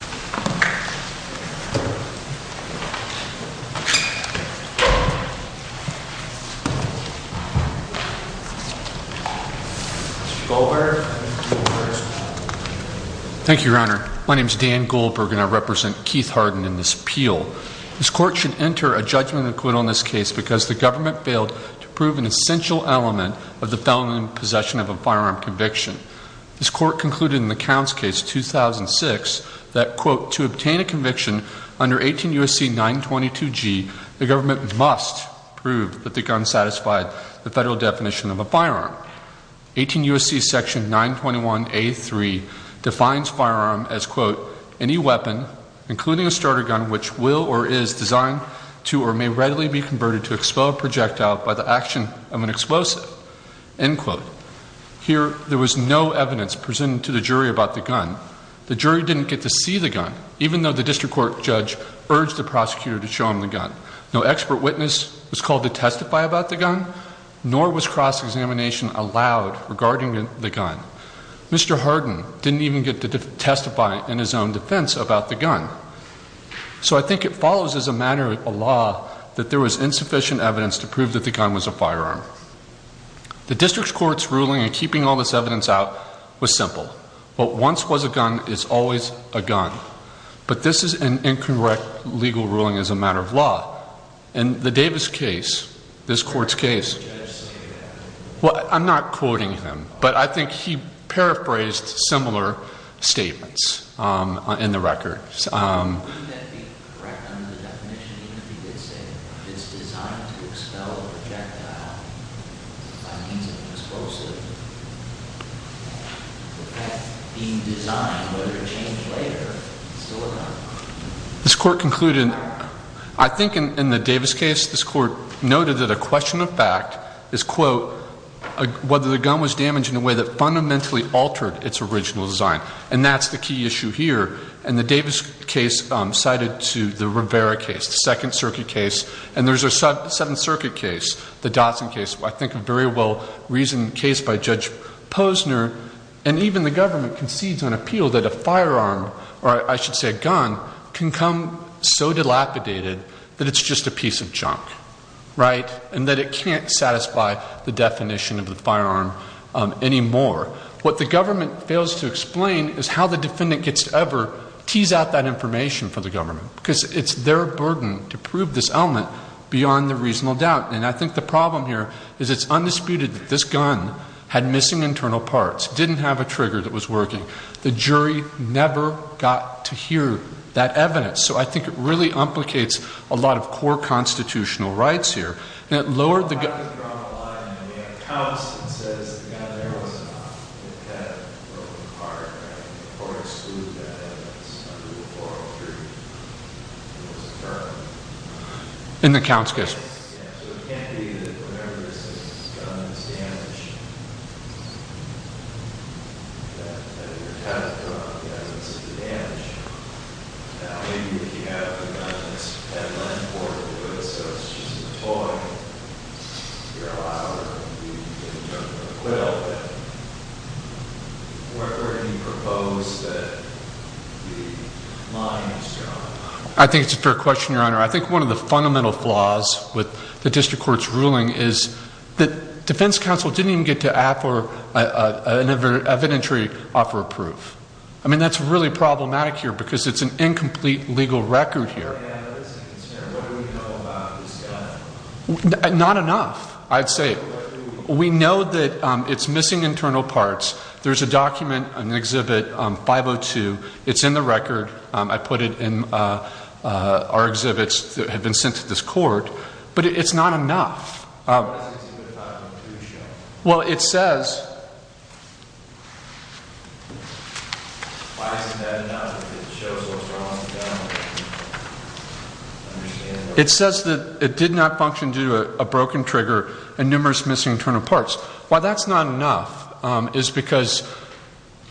Mr. Goldberg. Thank you, Your Honor. My name is Dan Goldberg and I represent Keith Hardin in this appeal. This court should enter a judgment and quit on this case because the government failed to prove an essential element of the felony in possession of a firearm conviction. This court concluded in the Counts case 2006 that, quote, to obtain a conviction under 18 U.S.C. 922G, the government must prove that the gun satisfied the federal definition of a firearm. 18 U.S.C. section 921A3 defines firearm as, quote, any weapon, including a starter gun, which will or is designed to or may readily be converted to explode projectile by the action of an explosive, end quote. Here there was no evidence presented to the jury about the gun. The jury didn't get to see the gun, even though the district court judge urged the prosecutor to show him the gun. No expert witness was called to testify about the gun, nor was cross-examination allowed regarding the gun. Mr. Hardin didn't even get to testify in his own defense about the gun. So I think it follows as a matter of belief that the gun was a firearm. The district court's ruling in keeping all this evidence out was simple. What once was a gun is always a gun. But this is an incorrect legal ruling as a matter of law. In the Davis case, this court's case, well, I'm not quoting him, but I think he paraphrased similar statements in the record. Wouldn't that be correct under the definition, even if he did say that it's designed to expel a projectile by means of an explosive? That being designed, whether it changed later, it's still a gun. This court concluded, I think in the Davis case, this court noted that a question of fact is, quote, whether the gun was damaged in a way that fundamentally altered its original design. And that's the case cited to the Rivera case, the Second Circuit case. And there's a Seventh Circuit case, the Dotson case, I think a very well-reasoned case by Judge Posner. And even the government concedes on appeal that a firearm, or I should say a gun, can come so dilapidated that it's just a piece of junk. Right? And that it can't satisfy the definition of the firearm anymore. What the government fails to explain is how the defendant gets to ever tease out that information for the government. Because it's their burden to prove this element beyond the reasonable doubt. And I think the problem here is it's undisputed that this gun had missing internal parts, didn't have a trigger that was working. The jury never got to hear that evidence. So I think it really implicates a lot of core constitutional rights here. I was drawn to the line and they have counts that says the gun there was not the pet or the car. I think the court excluded that evidence under the 403. It was a firearm. In the counts case? Yes. So it can't be that whatever this is, this gun is damaged. That your pet, the dog, hasn't seen the damage. Now, maybe if you have the gun, it's a pet, not important. So it's just a toy. You're a liar. You can jump in the quill. But, where can you propose that the line is drawn? I think it's a fair question, Your Honor. I think one of the fundamental flaws with the district court's ruling is that defense counsel didn't even get to offer an evidentiary offer of proof. I mean, that's really problematic here because it's an incomplete legal record here. Not enough, I'd say. We know that it's missing internal parts. There's a document, an exhibit, 502. It's in the record. I put it in our exhibits that have been sent to this court. But it's not enough. What does the exhibit 502 show? Why isn't that enough? It shows what's wrong with the gun. It says that it did not function due to a broken trigger and numerous missing internal parts. Why that's not enough is because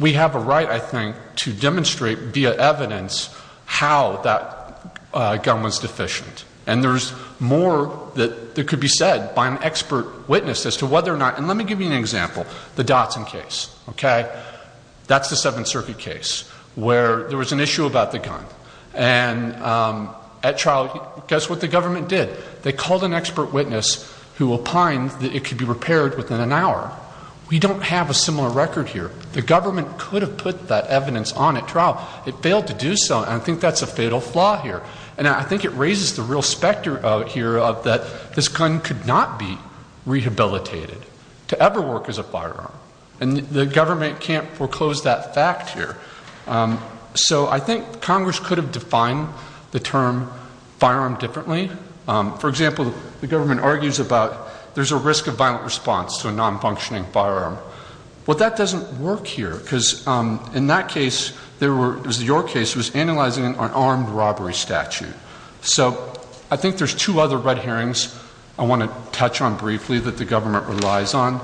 we have a right, I think, to demonstrate via evidence how that gun was deficient. And there's more that could be said by an expert witness as to whether or not, and let me give you an example. The Dotson case, okay? That's the Seventh Circuit case where there was an issue about the gun. And at trial, guess what the government did? They called an expert witness who opined that it could be repaired within an hour. We don't have a similar record here. The government could have put that evidence on at trial. It failed to do so, and I think that's a fatal flaw here. And I think it raises the real specter out here that this gun could not be rehabilitated to ever work as a firearm. And the government can't foreclose that fact here. So I think Congress could have defined the term firearm differently. For example, the government argues about there's a risk of violent response to a non-functioning firearm. Well, that doesn't work here because in that case, there were, it was your case, it was analyzing an armed robbery statute. So I think there's two other red herrings I want to touch on briefly that the government relies on.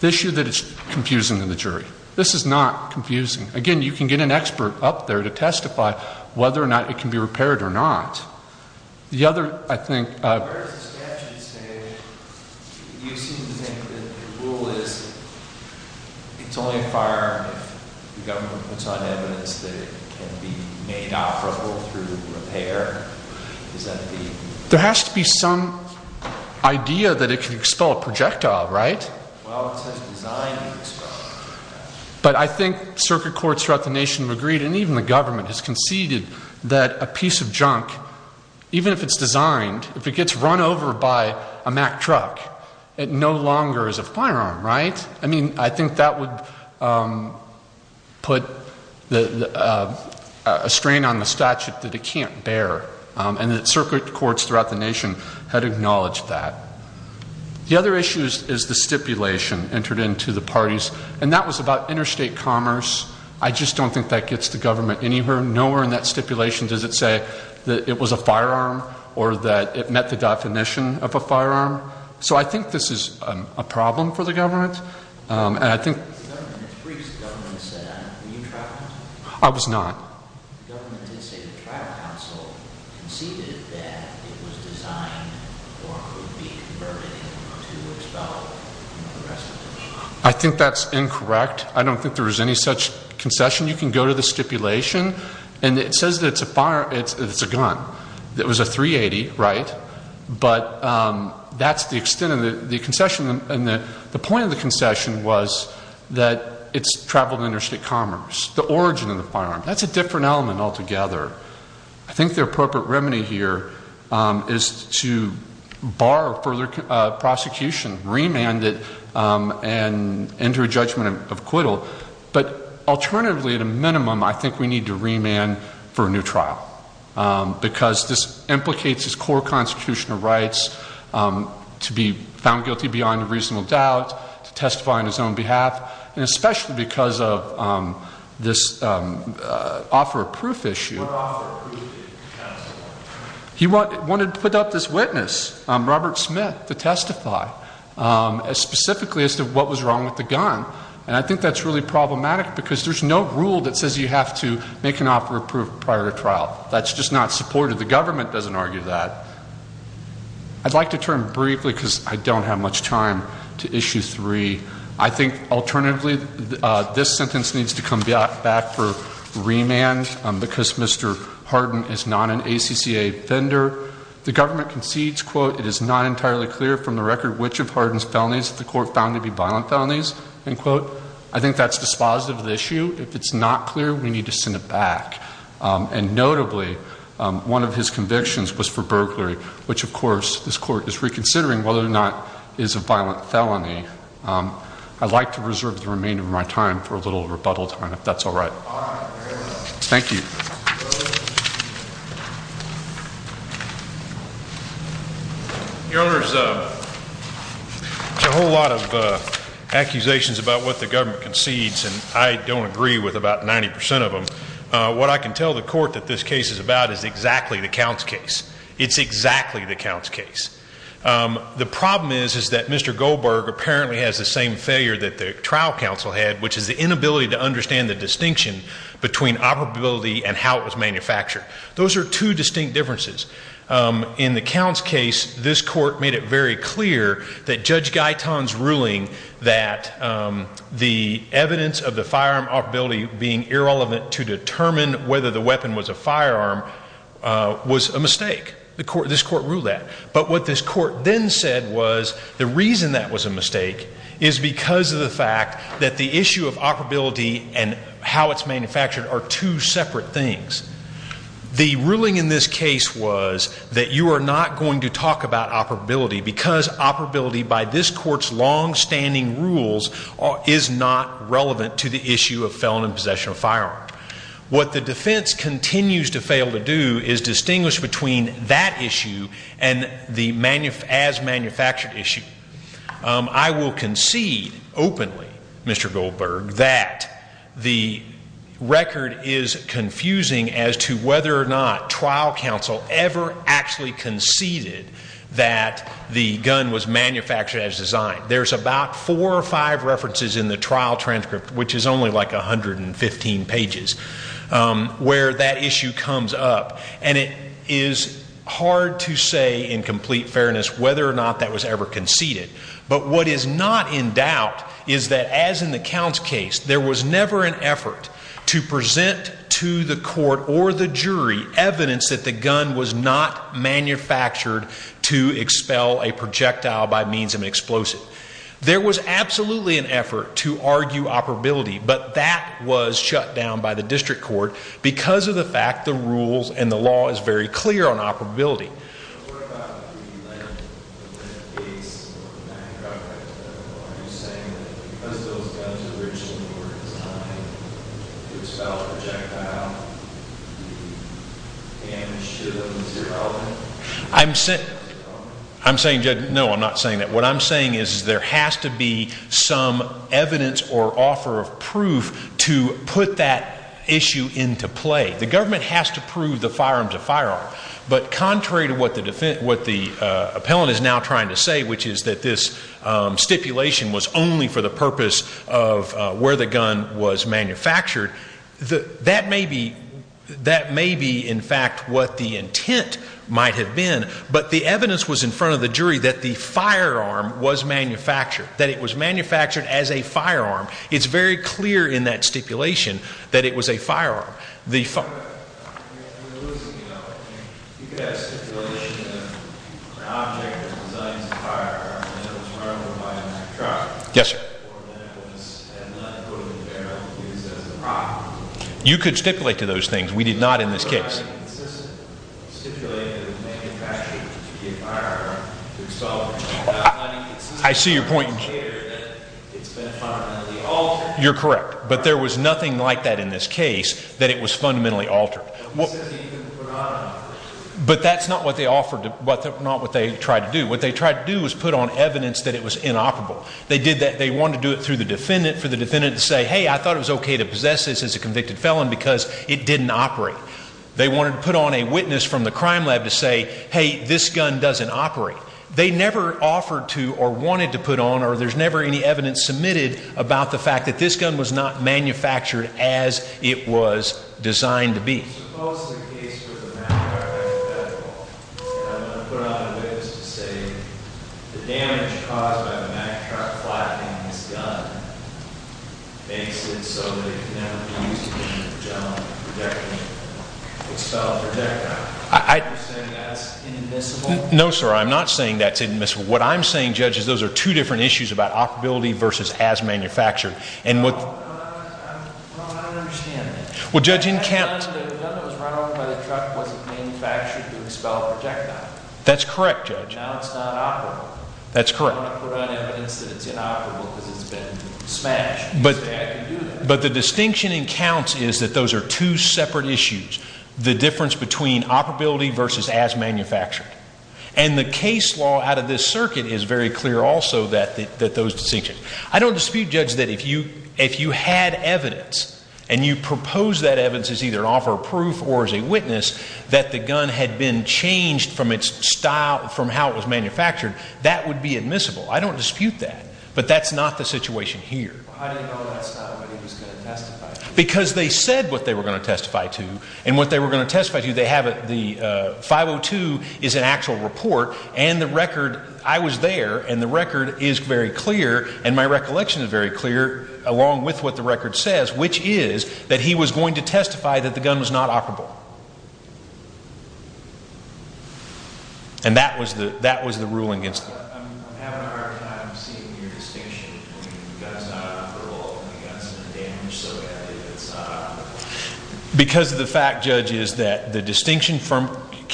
The issue that it's confusing to the jury. This is not confusing. Again, you can get an expert up there to testify whether or not it can be repaired or not. The other, I think. There has to be some idea that it can expel a projectile, right? Well, it's designed to expel a projectile. But I think circuit courts throughout the nation have agreed, and even the government has conceded, that a piece of junk, even if it's designed, if it gets run over by a Mack truck, it no longer is a firearm, right? I mean, I think that would put a strain on the statute that it can't bear. And circuit courts throughout the nation had acknowledged that. The other issue is the stipulation entered into the parties. And that was about interstate commerce. I just don't think that gets the government anywhere. Nowhere in that stipulation does it say that it was a firearm or that it met the definition of a firearm. So I think this is a problem for the government. I was not. I think that's incorrect. I don't think there was any such concession. You can go to the stipulation, and it says that it's a gun. It was a .380, right? But that's the extent of the concession. And the point of the concession was that it's traveled interstate commerce, the origin of the firearm. That's a different element altogether. I think the appropriate remedy here is to bar further prosecution, remand it, and enter a judgment of acquittal. But alternatively, at a minimum, I think we need to remand for a new trial. Because this implicates his core constitutional rights to be found guilty beyond a reasonable doubt, to testify on his own behalf. And especially because of this offer of proof issue. He wanted to put up this witness, Robert Smith, to testify specifically as to what was wrong with the gun. And I think that's really problematic because there's no rule that says you have to make an offer of proof prior to trial. That's just not supported. The government doesn't argue that. I'd like to turn briefly because I don't have much time to issue three. I think alternatively, this sentence needs to come back for remand because Mr. Hardin is not an ACCA offender. The government concedes, quote, it is not entirely clear from the record which of Hardin's felonies the court found to be violent felonies, end quote. I think that's dispositive of the issue. If it's not clear, we need to send it back. And notably, one of his convictions was for burglary, which, of course, this court is reconsidering whether or not is a violent felony. I'd like to reserve the remainder of my time for a little rebuttal time, if that's all right. Thank you. Your Honor, there's a whole lot of accusations about what the government concedes, and I don't agree with about 90% of them. What I can tell the court that this case is about is exactly the Count's case. It's exactly the Count's case. The problem is, is that Mr. Goldberg apparently has the same failure that the trial counsel had, which is the inability to understand the distinction between operability and how it was manufactured. Those are two distinct differences. In the Count's case, this court made it very clear that Judge Guyton's ruling that the evidence of the firearm operability being irrelevant to determine whether the weapon was a firearm was a mistake. This court ruled that. But what this court then said was the reason that was a mistake is because of the fact that the issue of operability and how it's manufactured are two separate things. The ruling in this case was that you are not going to talk about operability because operability by this court's longstanding rules is not relevant to the issue of felon in possession of a firearm. What the defense continues to fail to do is distinguish between that issue and the as-manufactured issue. I will concede openly, Mr. Goldberg, that the record is confusing as to whether or not trial counsel ever actually conceded that the gun was manufactured as designed. There's about four or five references in the trial transcript, which is only like 115 pages, where that issue comes up. And it is hard to say in complete fairness whether or not that was ever conceded. But what is not in doubt is that, as in the Count's case, there was never an effort to present to the court or the jury evidence that the gun was not manufactured to expel a projectile by means of an explosive. There was absolutely an effort to argue operability, but that was shut down by the district court because of the fact the rules and the law is very clear on operability. What about the Lent case? Are you saying that because those guns were originally designed to expel a projectile, the damage to them is irrelevant? What the appellant is now trying to say, which is that this stipulation was only for the purpose of where the gun was manufactured, that may be, in fact, what the intent might have been. But the evidence was in front of the jury that the firearm was manufactured, that it was manufactured as a firearm. It's very clear in that stipulation that it was a firearm. You could have a stipulation that an object was designed as a firearm and it was manufactured by a manufacturer. Yes, sir. Or that it was not put in the barrel and used as a product. You could stipulate to those things. We did not in this case. It was not a consistent stipulation that it was manufactured to be a firearm to expel a projectile. I see your point. It's been fundamentally altered. You're correct. But there was nothing like that in this case that it was fundamentally altered. But that's not what they offered, not what they tried to do. What they tried to do was put on evidence that it was inoperable. They wanted to do it through the defendant, for the defendant to say, hey, I thought it was okay to possess this as a convicted felon because it didn't operate. They wanted to put on a witness from the crime lab to say, hey, this gun doesn't operate. They never offered to or wanted to put on or there's never any evidence submitted about the fact that this gun was not manufactured as it was designed to be. Suppose the case was a match shot by the federal. And I'm going to put on a witness to say the damage caused by the match shot flattening this gun makes it so that it can never be used again as a general projectile. It's spelled projectile. Are you saying that's inadmissible? No, sir. I'm not saying that's inadmissible. What I'm saying, Judge, is those are two different issues about operability versus as manufactured. No, I don't understand that. Well, Judge, in count... The gun that was run over by the truck wasn't manufactured to expel a projectile. That's correct, Judge. Now it's not operable. That's correct. They want to put on evidence that it's inoperable because it's been smashed. But the distinction in counts is that those are two separate issues, the difference between operability versus as manufactured. And the case law out of this circuit is very clear also that those distinctions. I don't dispute, Judge, that if you had evidence and you proposed that evidence as either an offer of proof or as a witness that the gun had been changed from its style, from how it was manufactured, that would be admissible. I don't dispute that. But that's not the situation here. How do you know that's not what he was going to testify to? Because they said what they were going to testify to. And what they were going to testify to, they have it, the 502 is an actual report, and the record, I was there, and the record is very clear, and my recollection is very clear, along with what the record says, which is that he was going to testify that the gun was not operable. And that was the ruling against him. I'm having a hard time seeing your distinction between the gun's not operable and the gun's been damaged so badly that it's not operable. Because of the fact, Judge, is that the distinction from,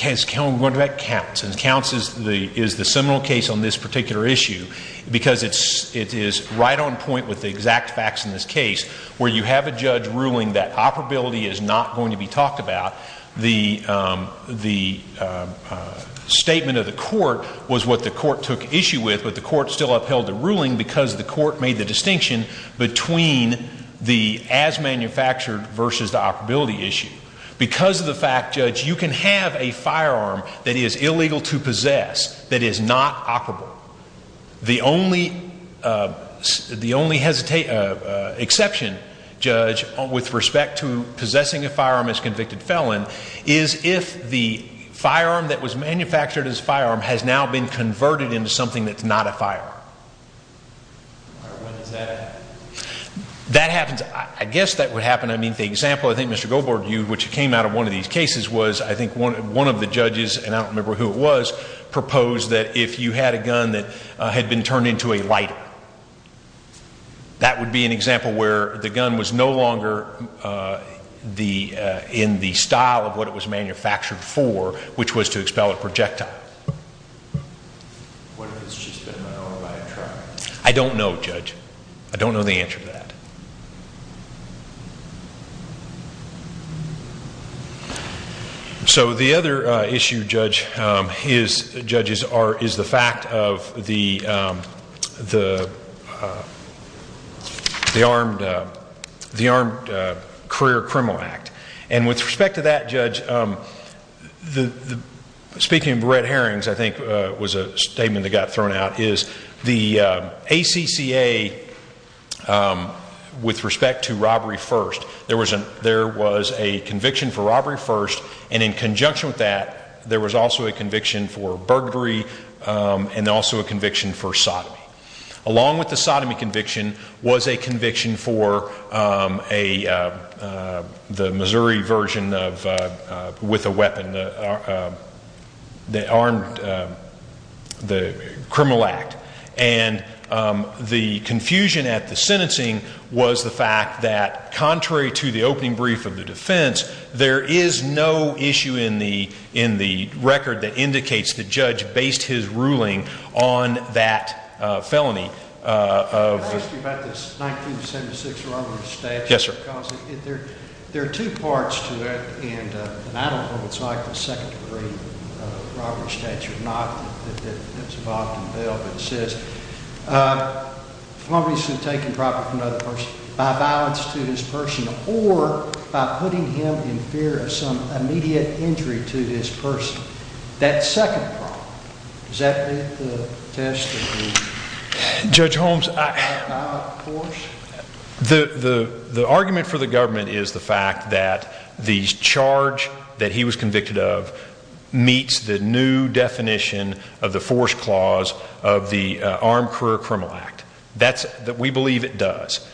is counts. And counts is the seminal case on this particular issue because it is right on point with the exact facts in this case where you have a judge ruling that operability is not going to be talked about. The statement of the court was what the court took issue with, but the court still upheld the ruling because the court made the distinction between the as manufactured versus the operability issue. Because of the fact, Judge, you can have a firearm that is illegal to possess that is not operable. The only exception, Judge, with respect to possessing a firearm as convicted felon is if the firearm that was manufactured as a firearm has now been converted into something that's not a firearm. All right, when does that happen? That happens, I guess that would happen. I mean, the example I think Mr. Goldberg viewed, which came out of one of these cases, was I think one of the judges, and I don't remember who it was, proposed that if you had a gun that had been turned into a lighter. That would be an example where the gun was no longer in the style of what it was manufactured for, which was to expel a projectile. What if it's just been an old, bad truck? I don't know, Judge. I don't know the answer to that. So the other issue, Judge, is the fact of the Armed Career Criminal Act. And with respect to that, Judge, speaking of Brett Harrings, I think it was a statement that got thrown out, is the ACCA, with respect to robbery first, there was a conviction for robbery first, and in conjunction with that, there was also a conviction for burglary and also a conviction for sodomy. Along with the sodomy conviction was a conviction for the Missouri version with a weapon, the criminal act. And the confusion at the sentencing was the fact that contrary to the opening brief of the defense, there is no issue in the record that indicates the judge based his ruling on that felony. Can I ask you about this 1976 robbery statute? Yes, sir. There are two parts to it, and I don't know what it's like, the second degree robbery statute. Not that it's involved in the bill, but it says, felonies have been taken properly from another person by violence to this person or by putting him in fear of some immediate injury to this person. That second property, does that meet the test of the violent force? The argument for the government is the fact that the charge that he was convicted of meets the new definition of the force clause of the Armed Career Criminal Act. We believe it does.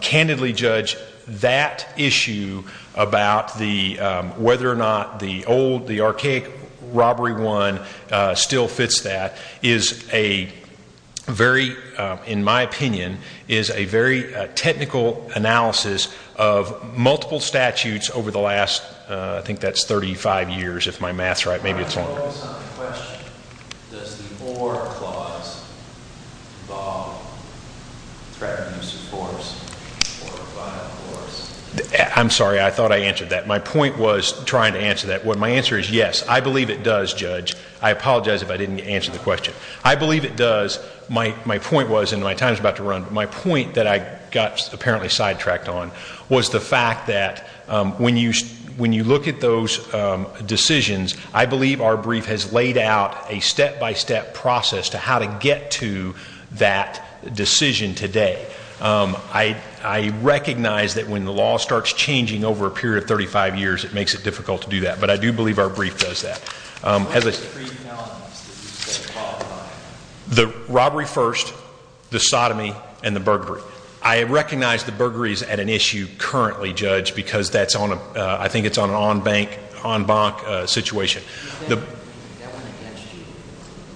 Candidly, Judge, that issue about whether or not the old, the archaic robbery one still fits that is a very, in my opinion, is a very technical analysis of multiple statutes over the last, I think that's 35 years, if my math's right, maybe it's longer. Does the or clause involve threatening to use force or violent force? I'm sorry, I thought I answered that. My point was trying to answer that. My answer is yes, I believe it does, Judge. I apologize if I didn't answer the question. I believe it does. My point was, and my time's about to run, but my point that I got apparently sidetracked on was the fact that when you look at those decisions, I believe our brief has laid out a step-by-step process to how to get to that decision today. I recognize that when the law starts changing over a period of 35 years, it makes it difficult to do that, but I do believe our brief does that. What are the three anomalies that you say qualify? The robbery first, the sodomy, and the burglary. I recognize the burglary is at an issue currently, Judge, because that's on a, I think it's on an en banc situation. That went against you,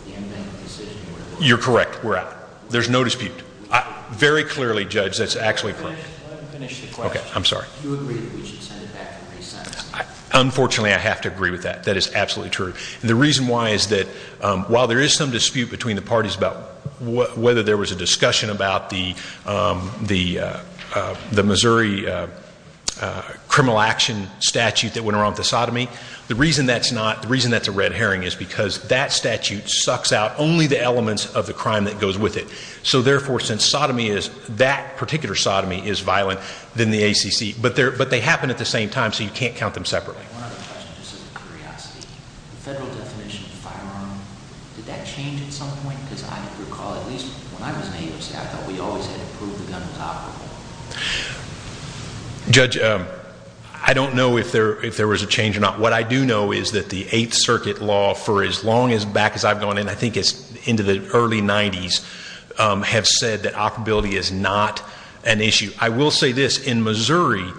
the en banc decision. You're correct. We're out. There's no dispute. Very clearly, Judge, that's actually correct. Let him finish the question. Okay, I'm sorry. Do you agree that we should send it back for reassessment? Unfortunately, I have to agree with that. That is absolutely true. The reason why is that while there is some dispute between the parties about whether there was a discussion about the Missouri criminal action statute that went around with the sodomy, the reason that's a red herring is because that statute sucks out only the elements of the crime that goes with it. Therefore, since sodomy is, that particular sodomy is violent, then the ACC. But they happen at the same time, so you can't count them separately. One other question, just out of curiosity. The federal definition of firearm, did that change at some point? Because I recall, at least when I was an AOC, I thought we always had to prove the gun was operable. Judge, I don't know if there was a change or not. What I do know is that the Eighth Circuit law, for as long back as I've gone in, I think it's into the early 90s, have said that operability is not an issue. I will say this. In Missouri,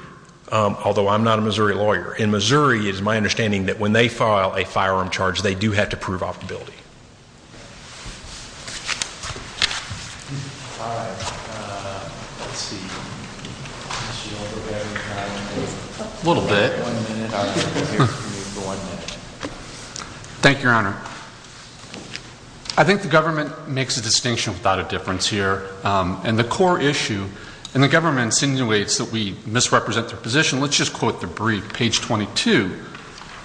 although I'm not a Missouri lawyer, in Missouri, it is my understanding that when they file a firearm charge, they do have to prove operability. All right. Let's see. A little bit. One minute. Thank you, Your Honor. I think the government makes a distinction without a difference here. And the core issue, and the government insinuates that we misrepresent their position, let's just quote the brief, page 22.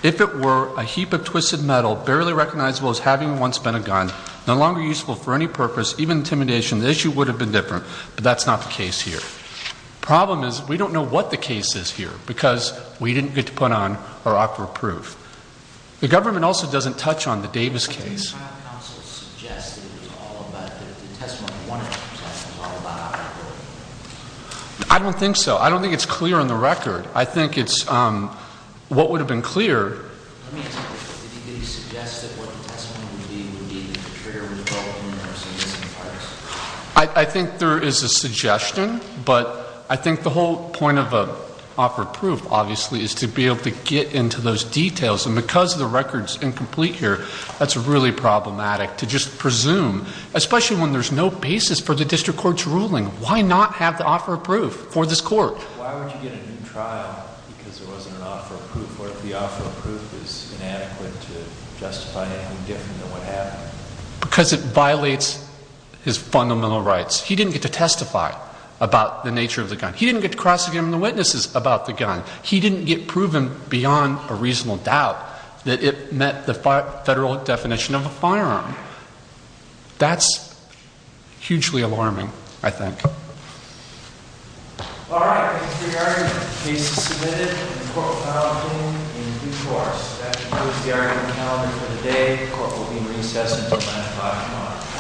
If it were a heap of twisted metal, barely recognizable as having once been a gun, no longer useful for any purpose, even intimidation, the issue would have been different. But that's not the case here. Problem is, we don't know what the case is here, because we didn't get to put on our operable proof. The government also doesn't touch on the Davis case. I think the trial counsel suggested it was all about the testimony. One of them said it was all about operability. I don't think so. I don't think it's clear on the record. I think it's what would have been clear. Let me ask you this. Did he suggest that what the testimony would be would be that the trigger was probably the universal use of force? I think there is a suggestion. But I think the whole point of an offer of proof, obviously, is to be able to get into those details. And because the record's incomplete here, that's really problematic to just presume, especially when there's no basis for the district court's ruling. Why not have the offer of proof for this court? Why would you get a new trial because there wasn't an offer of proof, or if the offer of proof is inadequate to justify anything different than what happened? Because it violates his fundamental rights. He didn't get to testify about the nature of the gun. He didn't get to cross examine the witnesses about the gun. He didn't get proven beyond a reasonable doubt that it met the federal definition of a firearm. That's hugely alarming, I think. All right. Thank you for your argument. The case is submitted, and the court will file a ruling in due course. That concludes the argument calendar for the day. The court will be in recess until 9 o'clock tomorrow.